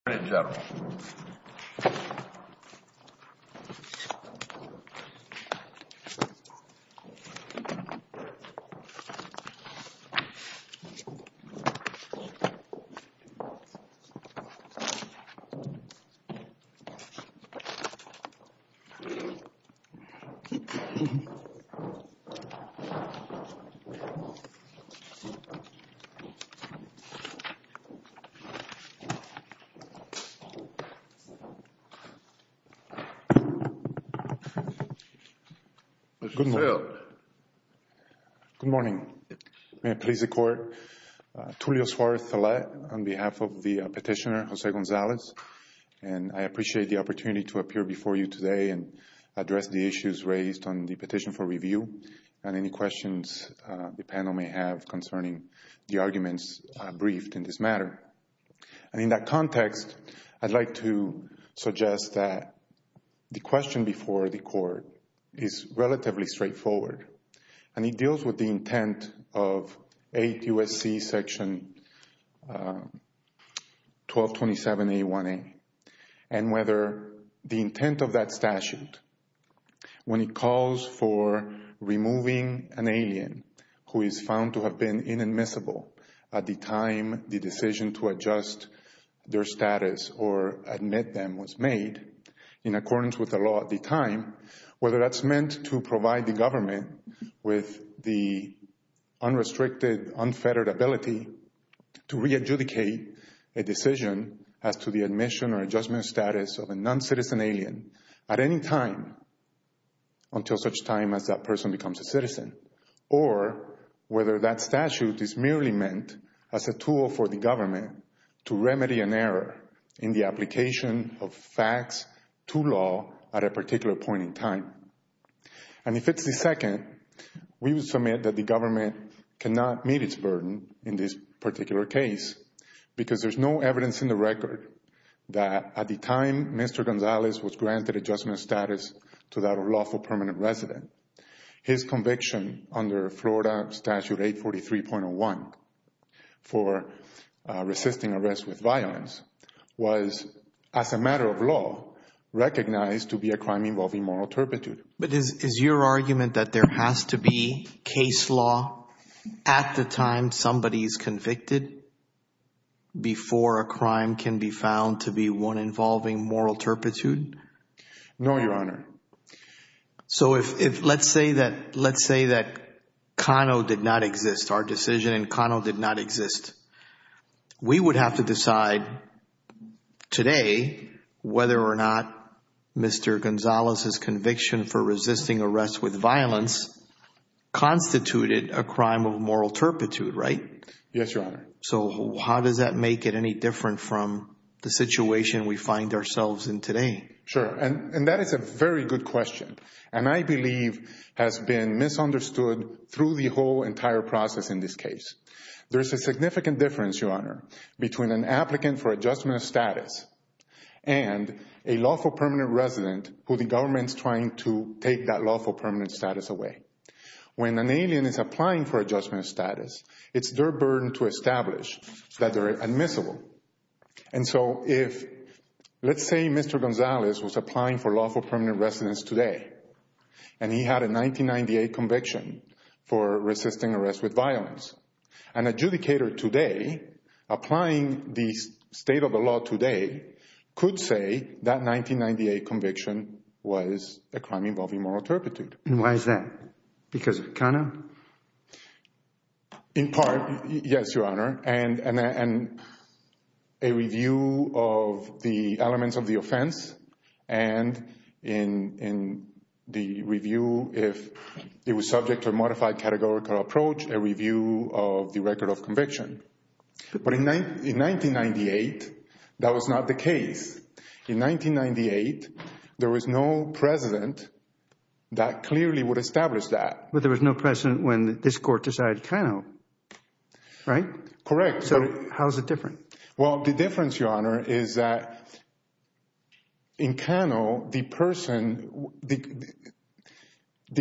of the U.S. Department of Justice and the U.S. Attorney General of the U.S. Department of Justice. Good morning. May it please the Court, Tulio Suarez-Thalette on behalf of the petitioner Jose Gonzalez, and I appreciate the opportunity to appear before you today and address the issues raised on the petition for review and any questions the panel may have concerning the arguments briefed in this matter. And in that context, I'd like to suggest that the question before the Court is relatively straightforward, and it deals with the intent of 8 U.S.C. section 1227A1A, and whether the intent of that statute, when it calls for removing an alien who is found to have been inadmissible at the time the decision took place, the decision to adjust their status or admit them was made in accordance with the law at the time, whether that's meant to provide the government with the unrestricted, unfettered ability to re-adjudicate a decision as to the admission or adjustment status of a non-citizen alien at any time until such time as that person becomes a citizen, or whether that statute is merely meant as a tool for the government to remedy an error in the application of facts to law at a particular point in time. And if it's the second, we would submit that the government cannot meet its burden in this particular case, because there's no evidence in the record that at the time Mr. Gonzalez was granted adjustment status to that of lawful permanent resident, his conviction under Florida Statute 843.01 for resisting arrest with violence was, as a matter of law, recognized to be a crime involving moral turpitude. But is your argument that there has to be case law at the time somebody is convicted before a crime can be found to be one involving moral turpitude? No, Your Honor. So let's say that Kano did not exist, our decision in Kano did not exist. We would have to decide today whether or not Mr. Gonzalez's conviction for resisting arrest with violence constituted a crime of moral turpitude, right? Yes, Your Honor. So how does that make it any different from the situation we find ourselves in today? Sure, and that is a very good question, and I believe has been misunderstood through the whole entire process in this case. There's a significant difference, Your Honor, between an applicant for adjustment of status and a lawful permanent resident who the government's trying to take that lawful permanent status away. When an alien is applying for adjustment of status, it's their burden to establish that they're admissible. And so if, let's say Mr. Gonzalez was applying for lawful permanent residence today, and he had a 1998 conviction for resisting arrest with violence, an adjudicator today applying the state of the law today could say that 1998 conviction was a crime involving moral turpitude. And why is that? Because of Kano? In part, yes, Your Honor, and a review of the elements of the offense, and in the review if it was subject to a modified categorical approach, a review of the record of conviction. But in 1998, that was not the case. In 1998, there was no president that clearly would establish that. But there was no president when this court decided Kano, right? Correct. So how is it different? Well, the difference, Your Honor, is that in Kano, the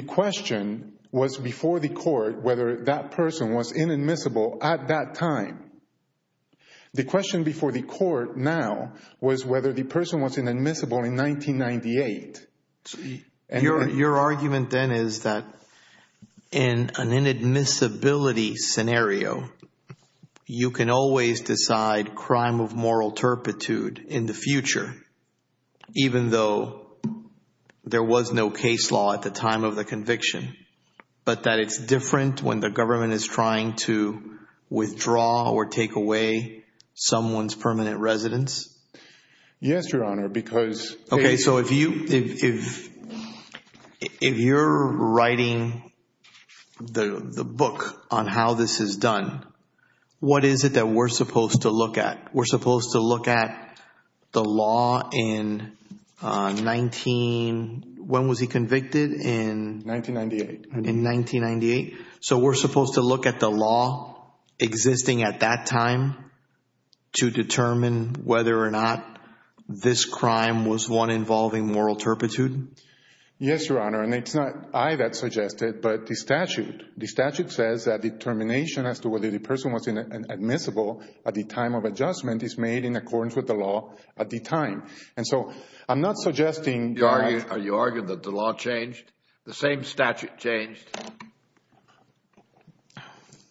question was before the court whether that person was inadmissible at that time. The question before the court now was whether the person was inadmissible in 1998. Your argument then is that in an inadmissibility scenario, you can always decide crime of moral turpitude in the future, even though there was no case law at the time of the conviction, but that it's different when the government is trying to withdraw or take away someone's permanent residence? Yes, Your Honor, because… Okay, so if you're writing the book on how this is done, what is it that we're supposed to look at? We're supposed to look at the law in 19… When was he convicted? 1998. So we're supposed to look at the law existing at that time to determine whether or not this crime was one involving moral turpitude? Yes, Your Honor, and it's not I that suggested, but the statute. The statute says that determination as to whether the person was inadmissible at the time of adjustment is made in accordance with the law at the time. And so I'm not suggesting… Are you arguing that the law changed? The same statute changed?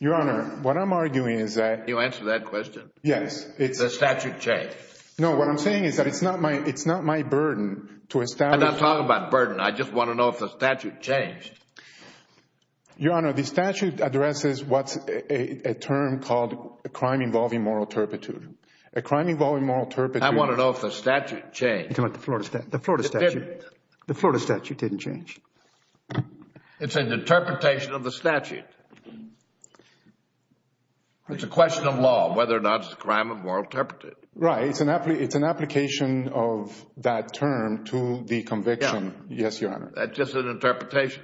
Your Honor, what I'm arguing is that… Can you answer that question? Yes, it's… The statute changed. No, what I'm saying is that it's not my burden to establish… I'm not talking about burden. I just want to know if the statute changed. Your Honor, the statute addresses what's a term called a crime involving moral turpitude. A crime involving moral turpitude… I want to know if the statute changed. The Florida statute. It didn't. The Florida statute didn't change. It's an interpretation of the statute. It's a question of law, whether or not it's a crime of moral turpitude. Right. It's an application of that term to the conviction. Yes, Your Honor. That's just an interpretation.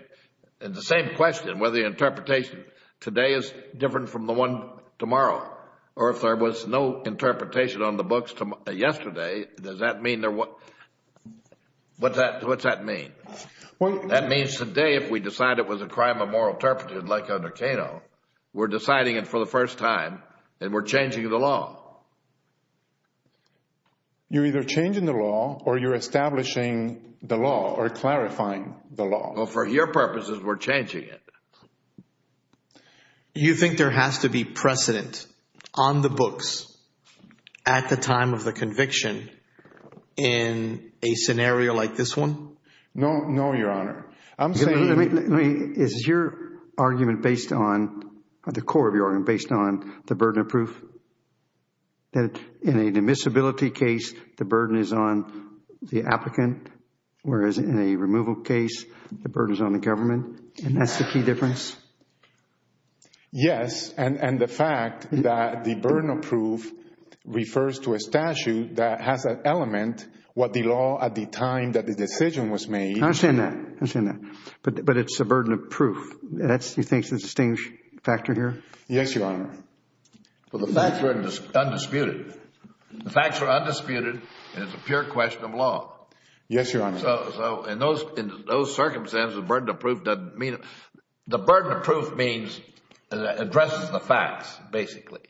It's the same question, whether the interpretation today is different from the one tomorrow. Or if there was no interpretation on the books yesterday, does that mean there was… What's that mean? That means today if we decide it was a crime of moral turpitude like under Cano, we're deciding it for the first time and we're changing the law. You're either changing the law or you're establishing the law or clarifying the law. Well, for your purposes, we're changing it. You think there has to be precedent on the books at the time of the conviction in a scenario like this one? No, Your Honor. I'm saying… Is your argument based on, the core of your argument based on the burden of proof? That in a admissibility case, the burden is on the applicant, whereas in a removal case, the burden is on the government, and that's the key difference? Yes, and the fact that the burden of proof refers to a statute that has an element, what the law at the time that the decision was made… I understand that. I understand that. But it's a burden of proof. You think that's the distinguished factor here? Yes, Your Honor. Well, the facts are undisputed. The facts are undisputed and it's a pure question of law. Yes, Your Honor. So, in those circumstances, the burden of proof doesn't mean… The burden of proof means, it addresses the facts, basically.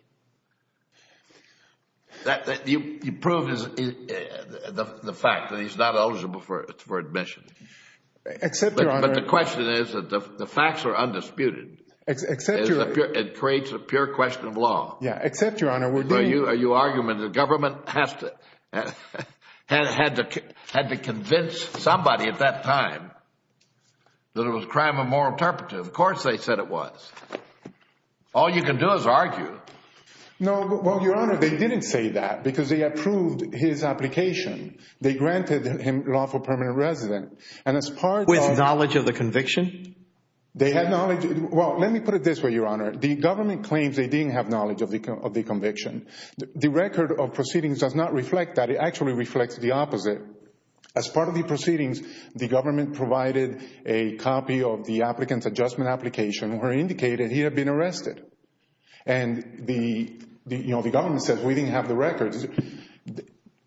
You prove the fact that he's not eligible for admission. Except, Your Honor… But the question is, the facts are undisputed. Except, Your Honor… It creates a pure question of law. Except, Your Honor, we're doing… Are you arguing that the government had to convince somebody at that time that it was a crime of moral turpitude? Of course they said it was. All you can do is argue. No, Your Honor, they didn't say that because they approved his application. They granted him lawful permanent residence. With knowledge of the conviction? They had knowledge… Well, let me put it this way, Your Honor. The government claims they didn't have knowledge of the conviction. The record of proceedings does not reflect that. It actually reflects the opposite. As part of the proceedings, the government provided a copy of the applicant's adjustment application where it indicated he had been arrested. And the government says, we didn't have the records.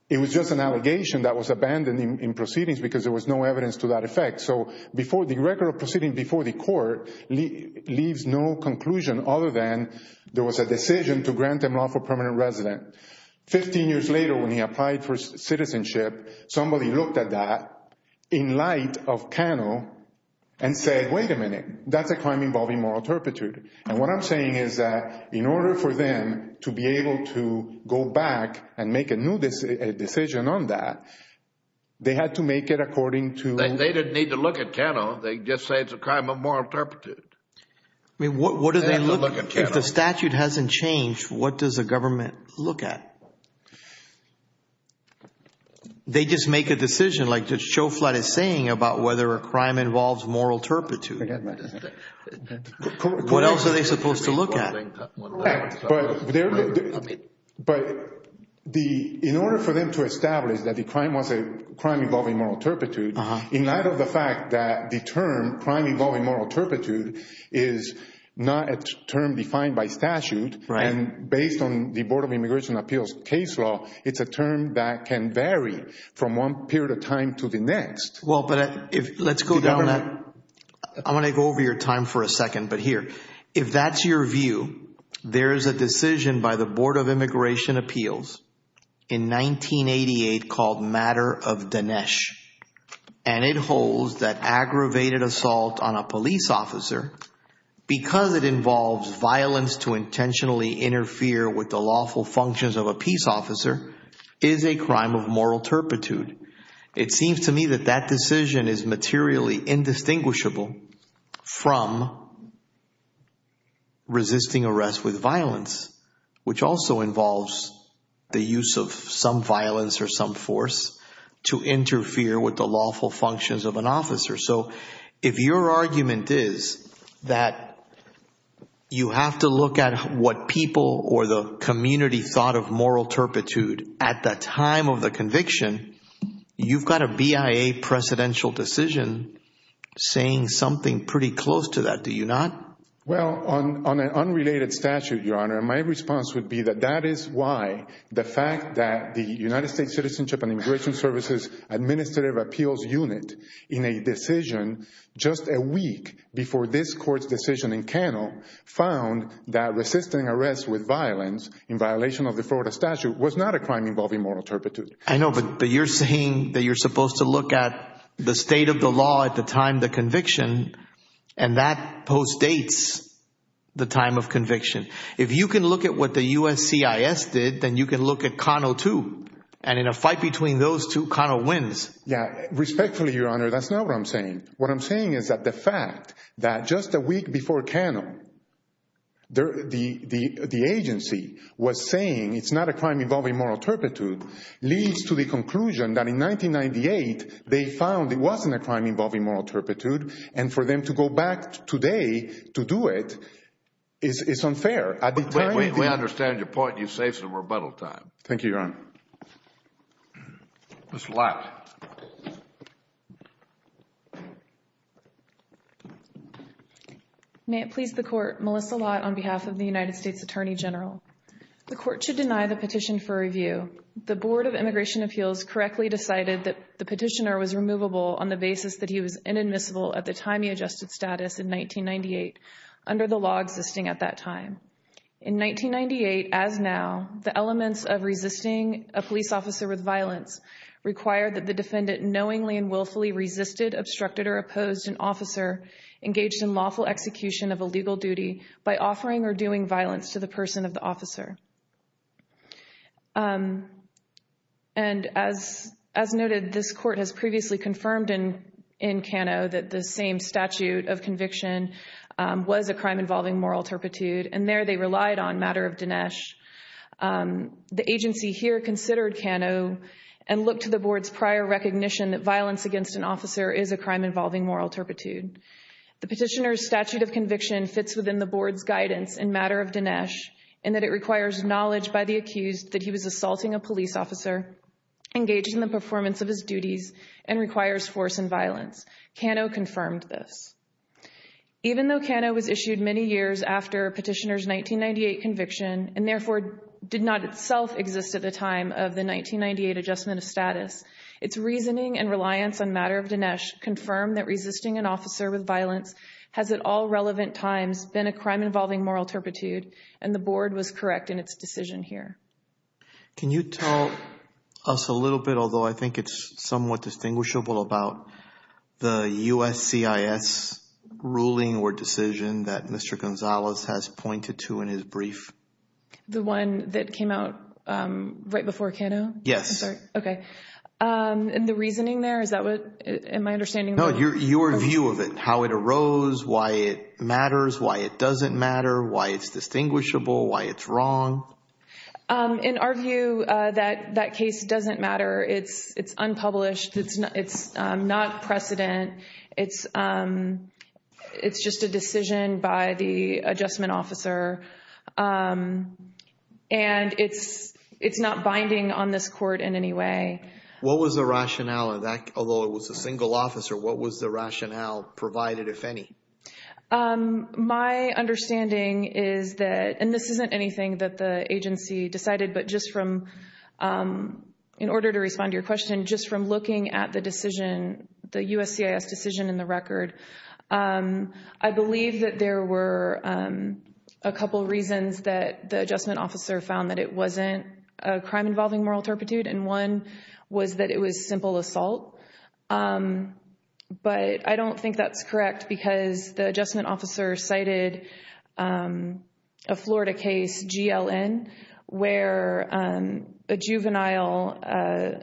It was just an allegation that was abandoned in proceedings because there was no evidence to that effect. So the record of proceedings before the court leaves no conclusion other than there was a decision to grant him lawful permanent residence. Fifteen years later when he applied for citizenship, somebody looked at that in light of Cano and said, wait a minute. That's a crime involving moral turpitude. And what I'm saying is that in order for them to be able to go back and make a new decision on that, they had to make it according to… They didn't need to look at Cano. They just say it's a crime of moral turpitude. I mean, what do they look at? If the statute hasn't changed, what does the government look at? They just make a decision like what Schofield is saying about whether a crime involves moral turpitude. What else are they supposed to look at? But in order for them to establish that the crime was a crime involving moral turpitude, in light of the fact that the term crime involving moral turpitude is not a term defined by statute. And based on the Board of Immigration Appeals case law, it's a term that can vary from one period of time to the next. Well, but let's go down that. I want to go over your time for a second. But here, if that's your view, there is a decision by the Board of Immigration Appeals in 1988 called Matter of Dinesh. And it holds that aggravated assault on a police officer because it involves violence to intentionally interfere with the lawful functions of a peace officer is a crime of moral turpitude. It seems to me that that decision is materially indistinguishable from resisting arrest with violence, which also involves the use of some violence or some force to interfere with the lawful functions of an officer. So if your argument is that you have to look at what people or the community thought of moral turpitude at the time of the conviction, you've got a BIA presidential decision saying something pretty close to that, do you not? Well, on an unrelated statute, Your Honor, my response would be that that is why the fact that the United States Citizenship and Immigration Services Administrative Appeals Unit in a decision just a week before this court's decision in Cannell found that resisting arrest with violence in violation of the Florida statute was not a crime involving moral turpitude. I know, but you're saying that you're supposed to look at the state of the law at the time of the conviction, and that postdates the time of conviction. If you can look at what the USCIS did, then you can look at Cannell too. And in a fight between those two, Cannell wins. Yeah. Respectfully, Your Honor, that's not what I'm saying. What I'm saying is that the fact that just a week before Cannell, the agency was saying it's not a crime involving moral turpitude leads to the conclusion that in 1998, they found it wasn't a crime involving moral turpitude. And for them to go back today to do it is unfair. We understand your point, and you've saved some rebuttal time. Thank you, Your Honor. Mr. Lott. May it please the Court, Melissa Lott on behalf of the United States Attorney General. The Court should deny the petition for review. The Board of Immigration Appeals correctly decided that the petitioner was removable on the basis that he was inadmissible at the time he adjusted status in 1998 under the law existing at that time. In 1998, as now, the elements of resisting a police officer with violence require that the defendant knowingly and willfully resisted, obstructed, or opposed an officer engaged in lawful execution of a legal duty by offering or doing violence to the person of the officer. And as noted, this Court has previously confirmed in Cannell that the same statute of conviction was a crime involving moral turpitude, and there they relied on matter of Dinesh. The agency here considered Cannell and looked to the Board's prior recognition that violence against an officer is a crime involving moral turpitude. The petitioner's statute of conviction fits within the Board's guidance in matter of Dinesh in that it requires knowledge by the accused that he was assaulting a police officer, engaged in the performance of his duties, and requires force and violence. Cannell confirmed this. Even though Cannell was issued many years after petitioner's 1998 conviction and therefore did not itself exist at the time of the 1998 adjustment of status, its reasoning and reliance on matter of Dinesh confirmed that resisting an officer with violence has at all relevant times been a crime involving moral turpitude, and the Board was correct in its decision here. Can you tell us a little bit, although I think it's somewhat distinguishable, about the USCIS ruling or decision that Mr. Gonzalez has pointed to in his brief? The one that came out right before Cannell? Yes. Okay. And the reasoning there, is that what, in my understanding? No, your view of it, how it arose, why it matters, why it doesn't matter, why it's distinguishable, why it's wrong. In our view, that case doesn't matter. It's unpublished. It's not precedent. It's just a decision by the adjustment officer, and it's not binding on this court in any way. What was the rationale of that? Although it was a single officer, what was the rationale provided, if any? My understanding is that, and this isn't anything that the agency decided, but just from, in order to respond to your question, just from looking at the decision, the USCIS decision in the record, I believe that there were a couple reasons that the adjustment officer found that it wasn't a crime involving moral turpitude, and one was that it was simple assault. But I don't think that's correct because the adjustment officer cited a Florida case, GLN, where a juvenile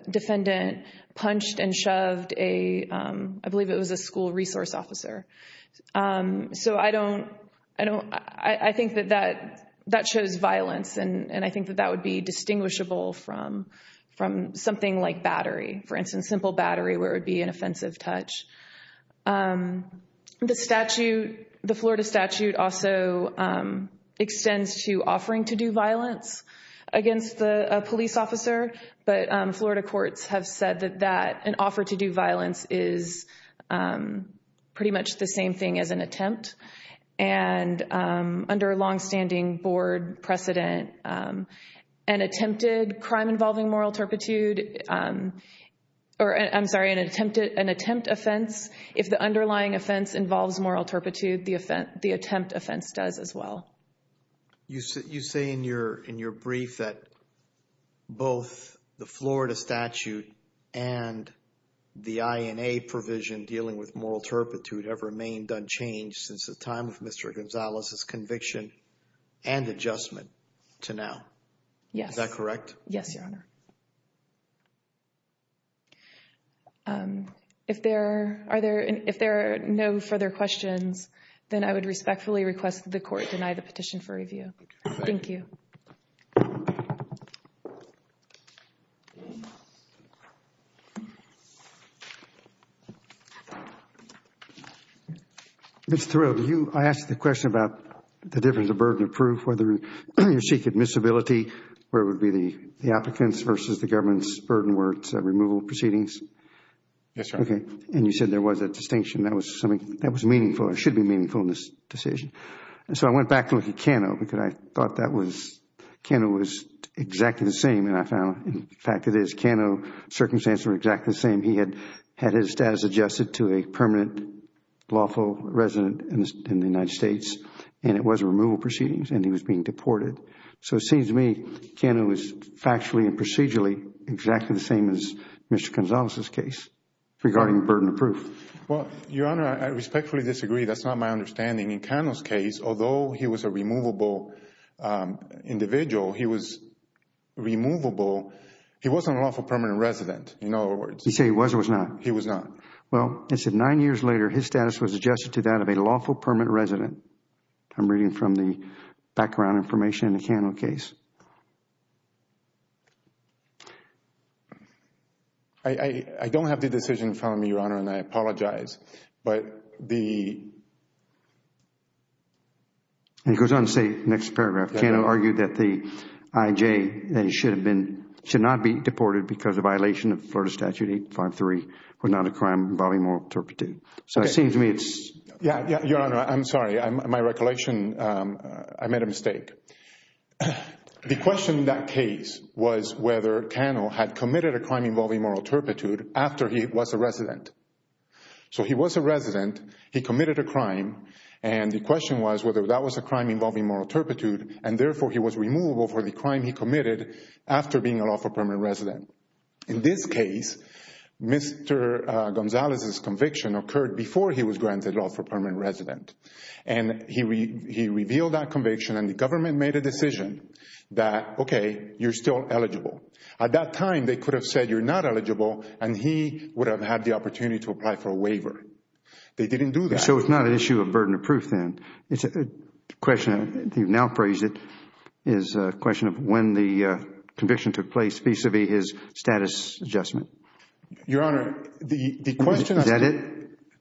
defendant punched and shoved a, I believe it was a school resource officer. So I think that that shows violence, and I think that that would be distinguishable from something like battery, for instance, simple battery where it would be an offensive touch. The Florida statute also extends to offering to do violence against a police officer, but Florida courts have said that an offer to do violence is pretty much the same thing as an attempt. And under a longstanding board precedent, an attempted crime involving moral turpitude, or I'm sorry, an attempt offense, if the underlying offense involves moral turpitude, the attempt offense does as well. You say in your brief that both the Florida statute and the INA provision dealing with moral turpitude have remained unchanged since the time of Mr. Gonzalez's conviction and adjustment to now. Yes. Is that correct? Yes, Your Honor. If there are no further questions, then I would respectfully request that the court deny the petition for review. Thank you. Mr. Thurow, I asked the question about the difference of burden of proof, whether you seek admissibility, where it would be the applicants versus the government's burden worth removal proceedings. Yes, Your Honor. Okay. And you said there was a distinction. That was meaningful. It should be meaningful in this decision. So I went back to look at Cano because I thought that was, Cano was exactly the same. And I found, in fact, it is. Cano's circumstances were exactly the same. He had his status adjusted to a permanent lawful resident in the United States and it was removal proceedings and he was being deported. So it seems to me Cano is factually and procedurally exactly the same as Mr. Gonzalez's case regarding burden of proof. Well, Your Honor, I respectfully disagree. That's not my understanding. In Cano's case, although he was a removable individual, he was removable. He wasn't a lawful permanent resident, in other words. You say he was or was not? He was not. Well, it said nine years later his status was adjusted to that of a lawful permanent resident. I'm reading from the background information in the Cano case. I don't have the decision in front of me, Your Honor, and I apologize. But the He goes on to say, next paragraph, Cano argued that the IJ should not be deported because of violation of Florida Statute 853, was not a crime involving moral turpitude. So it seems to me it's Your Honor, I'm sorry. My recollection, I made a mistake. The question in that case was whether Cano had committed a crime involving moral turpitude after he was a resident. So he was a resident, he committed a crime, and the question was whether that was a crime involving moral turpitude, and therefore he was removable for the crime he committed after being a lawful permanent resident. In this case, Mr. Gonzalez's conviction occurred before he was granted lawful permanent resident. And he revealed that conviction, and the government made a decision that, okay, you're still eligible. At that time, they could have said you're not eligible, and he would have had the opportunity to apply for a waiver. They didn't do that. So it's not an issue of burden of proof then. The question, you've now phrased it, is a question of when the conviction took place vis-à-vis his status adjustment. Your Honor, the question Is that it?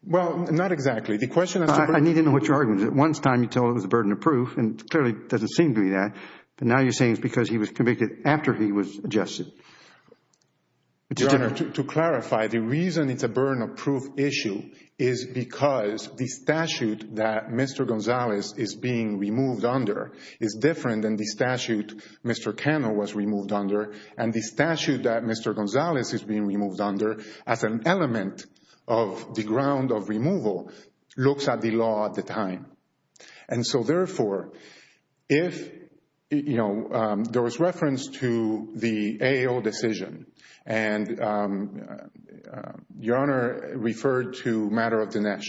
Well, not exactly. The question is I need to know what your argument is. At one time you told it was a burden of proof, and it clearly doesn't seem to be that. But now you're saying it's because he was convicted after he was adjusted. Your Honor, to clarify, the reason it's a burden of proof issue is because the statute that Mr. Gonzalez is being removed under is different than the statute Mr. Cano was removed under, and the statute that Mr. Gonzalez is being removed under, as an element of the ground of removal, looks at the law at the time. And so, therefore, if, you know, there was reference to the AO decision, and your Honor referred to Matter of Dinesh.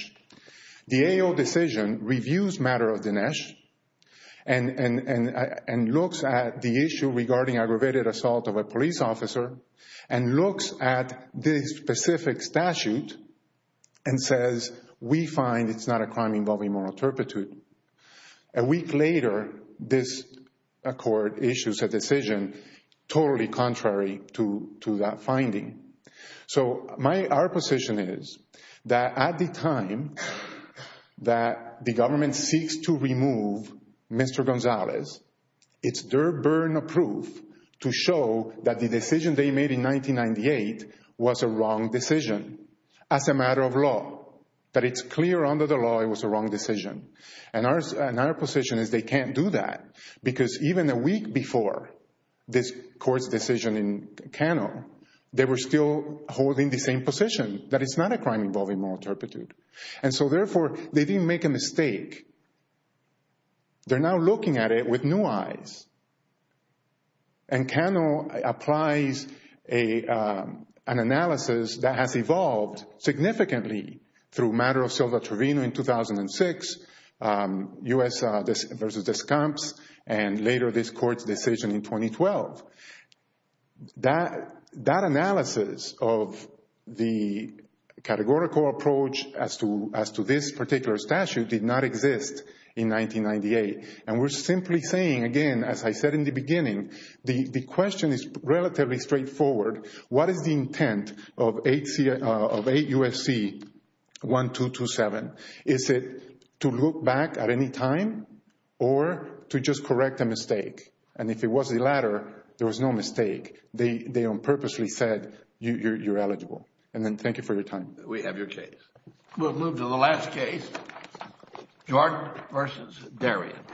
The AO decision reviews Matter of Dinesh, and looks at the issue regarding aggravated assault of a police officer, and looks at the specific statute, and says, we find it's not a crime involving moral turpitude. A week later, this court issues a decision totally contrary to that finding. So, our position is that at the time that the government seeks to remove Mr. Gonzalez, it's their burden of proof to show that the decision they made in 1998 was a wrong decision as a matter of law. That it's clear under the law it was a wrong decision. And our position is they can't do that, because even a week before this court's decision in Cano, they were still holding the same position, that it's not a crime involving moral turpitude. And so, therefore, they didn't make a mistake. They're now looking at it with new eyes. And Cano applies an analysis that has evolved significantly through Matter of Silva Trevino in 2006, U.S. v. Descamps, and later this court's decision in 2012. That analysis of the categorical approach as to this particular statute did not exist in 1998. And we're simply saying, again, as I said in the beginning, the question is relatively straightforward. What is the intent of 8 U.S.C. 1227? Is it to look back at any time, or to just correct a mistake? And if it was the latter, there was no mistake. They unpurposely said, you're eligible. And then thank you for your time. We have your case. We'll move to the last case, Jordan v. Darien.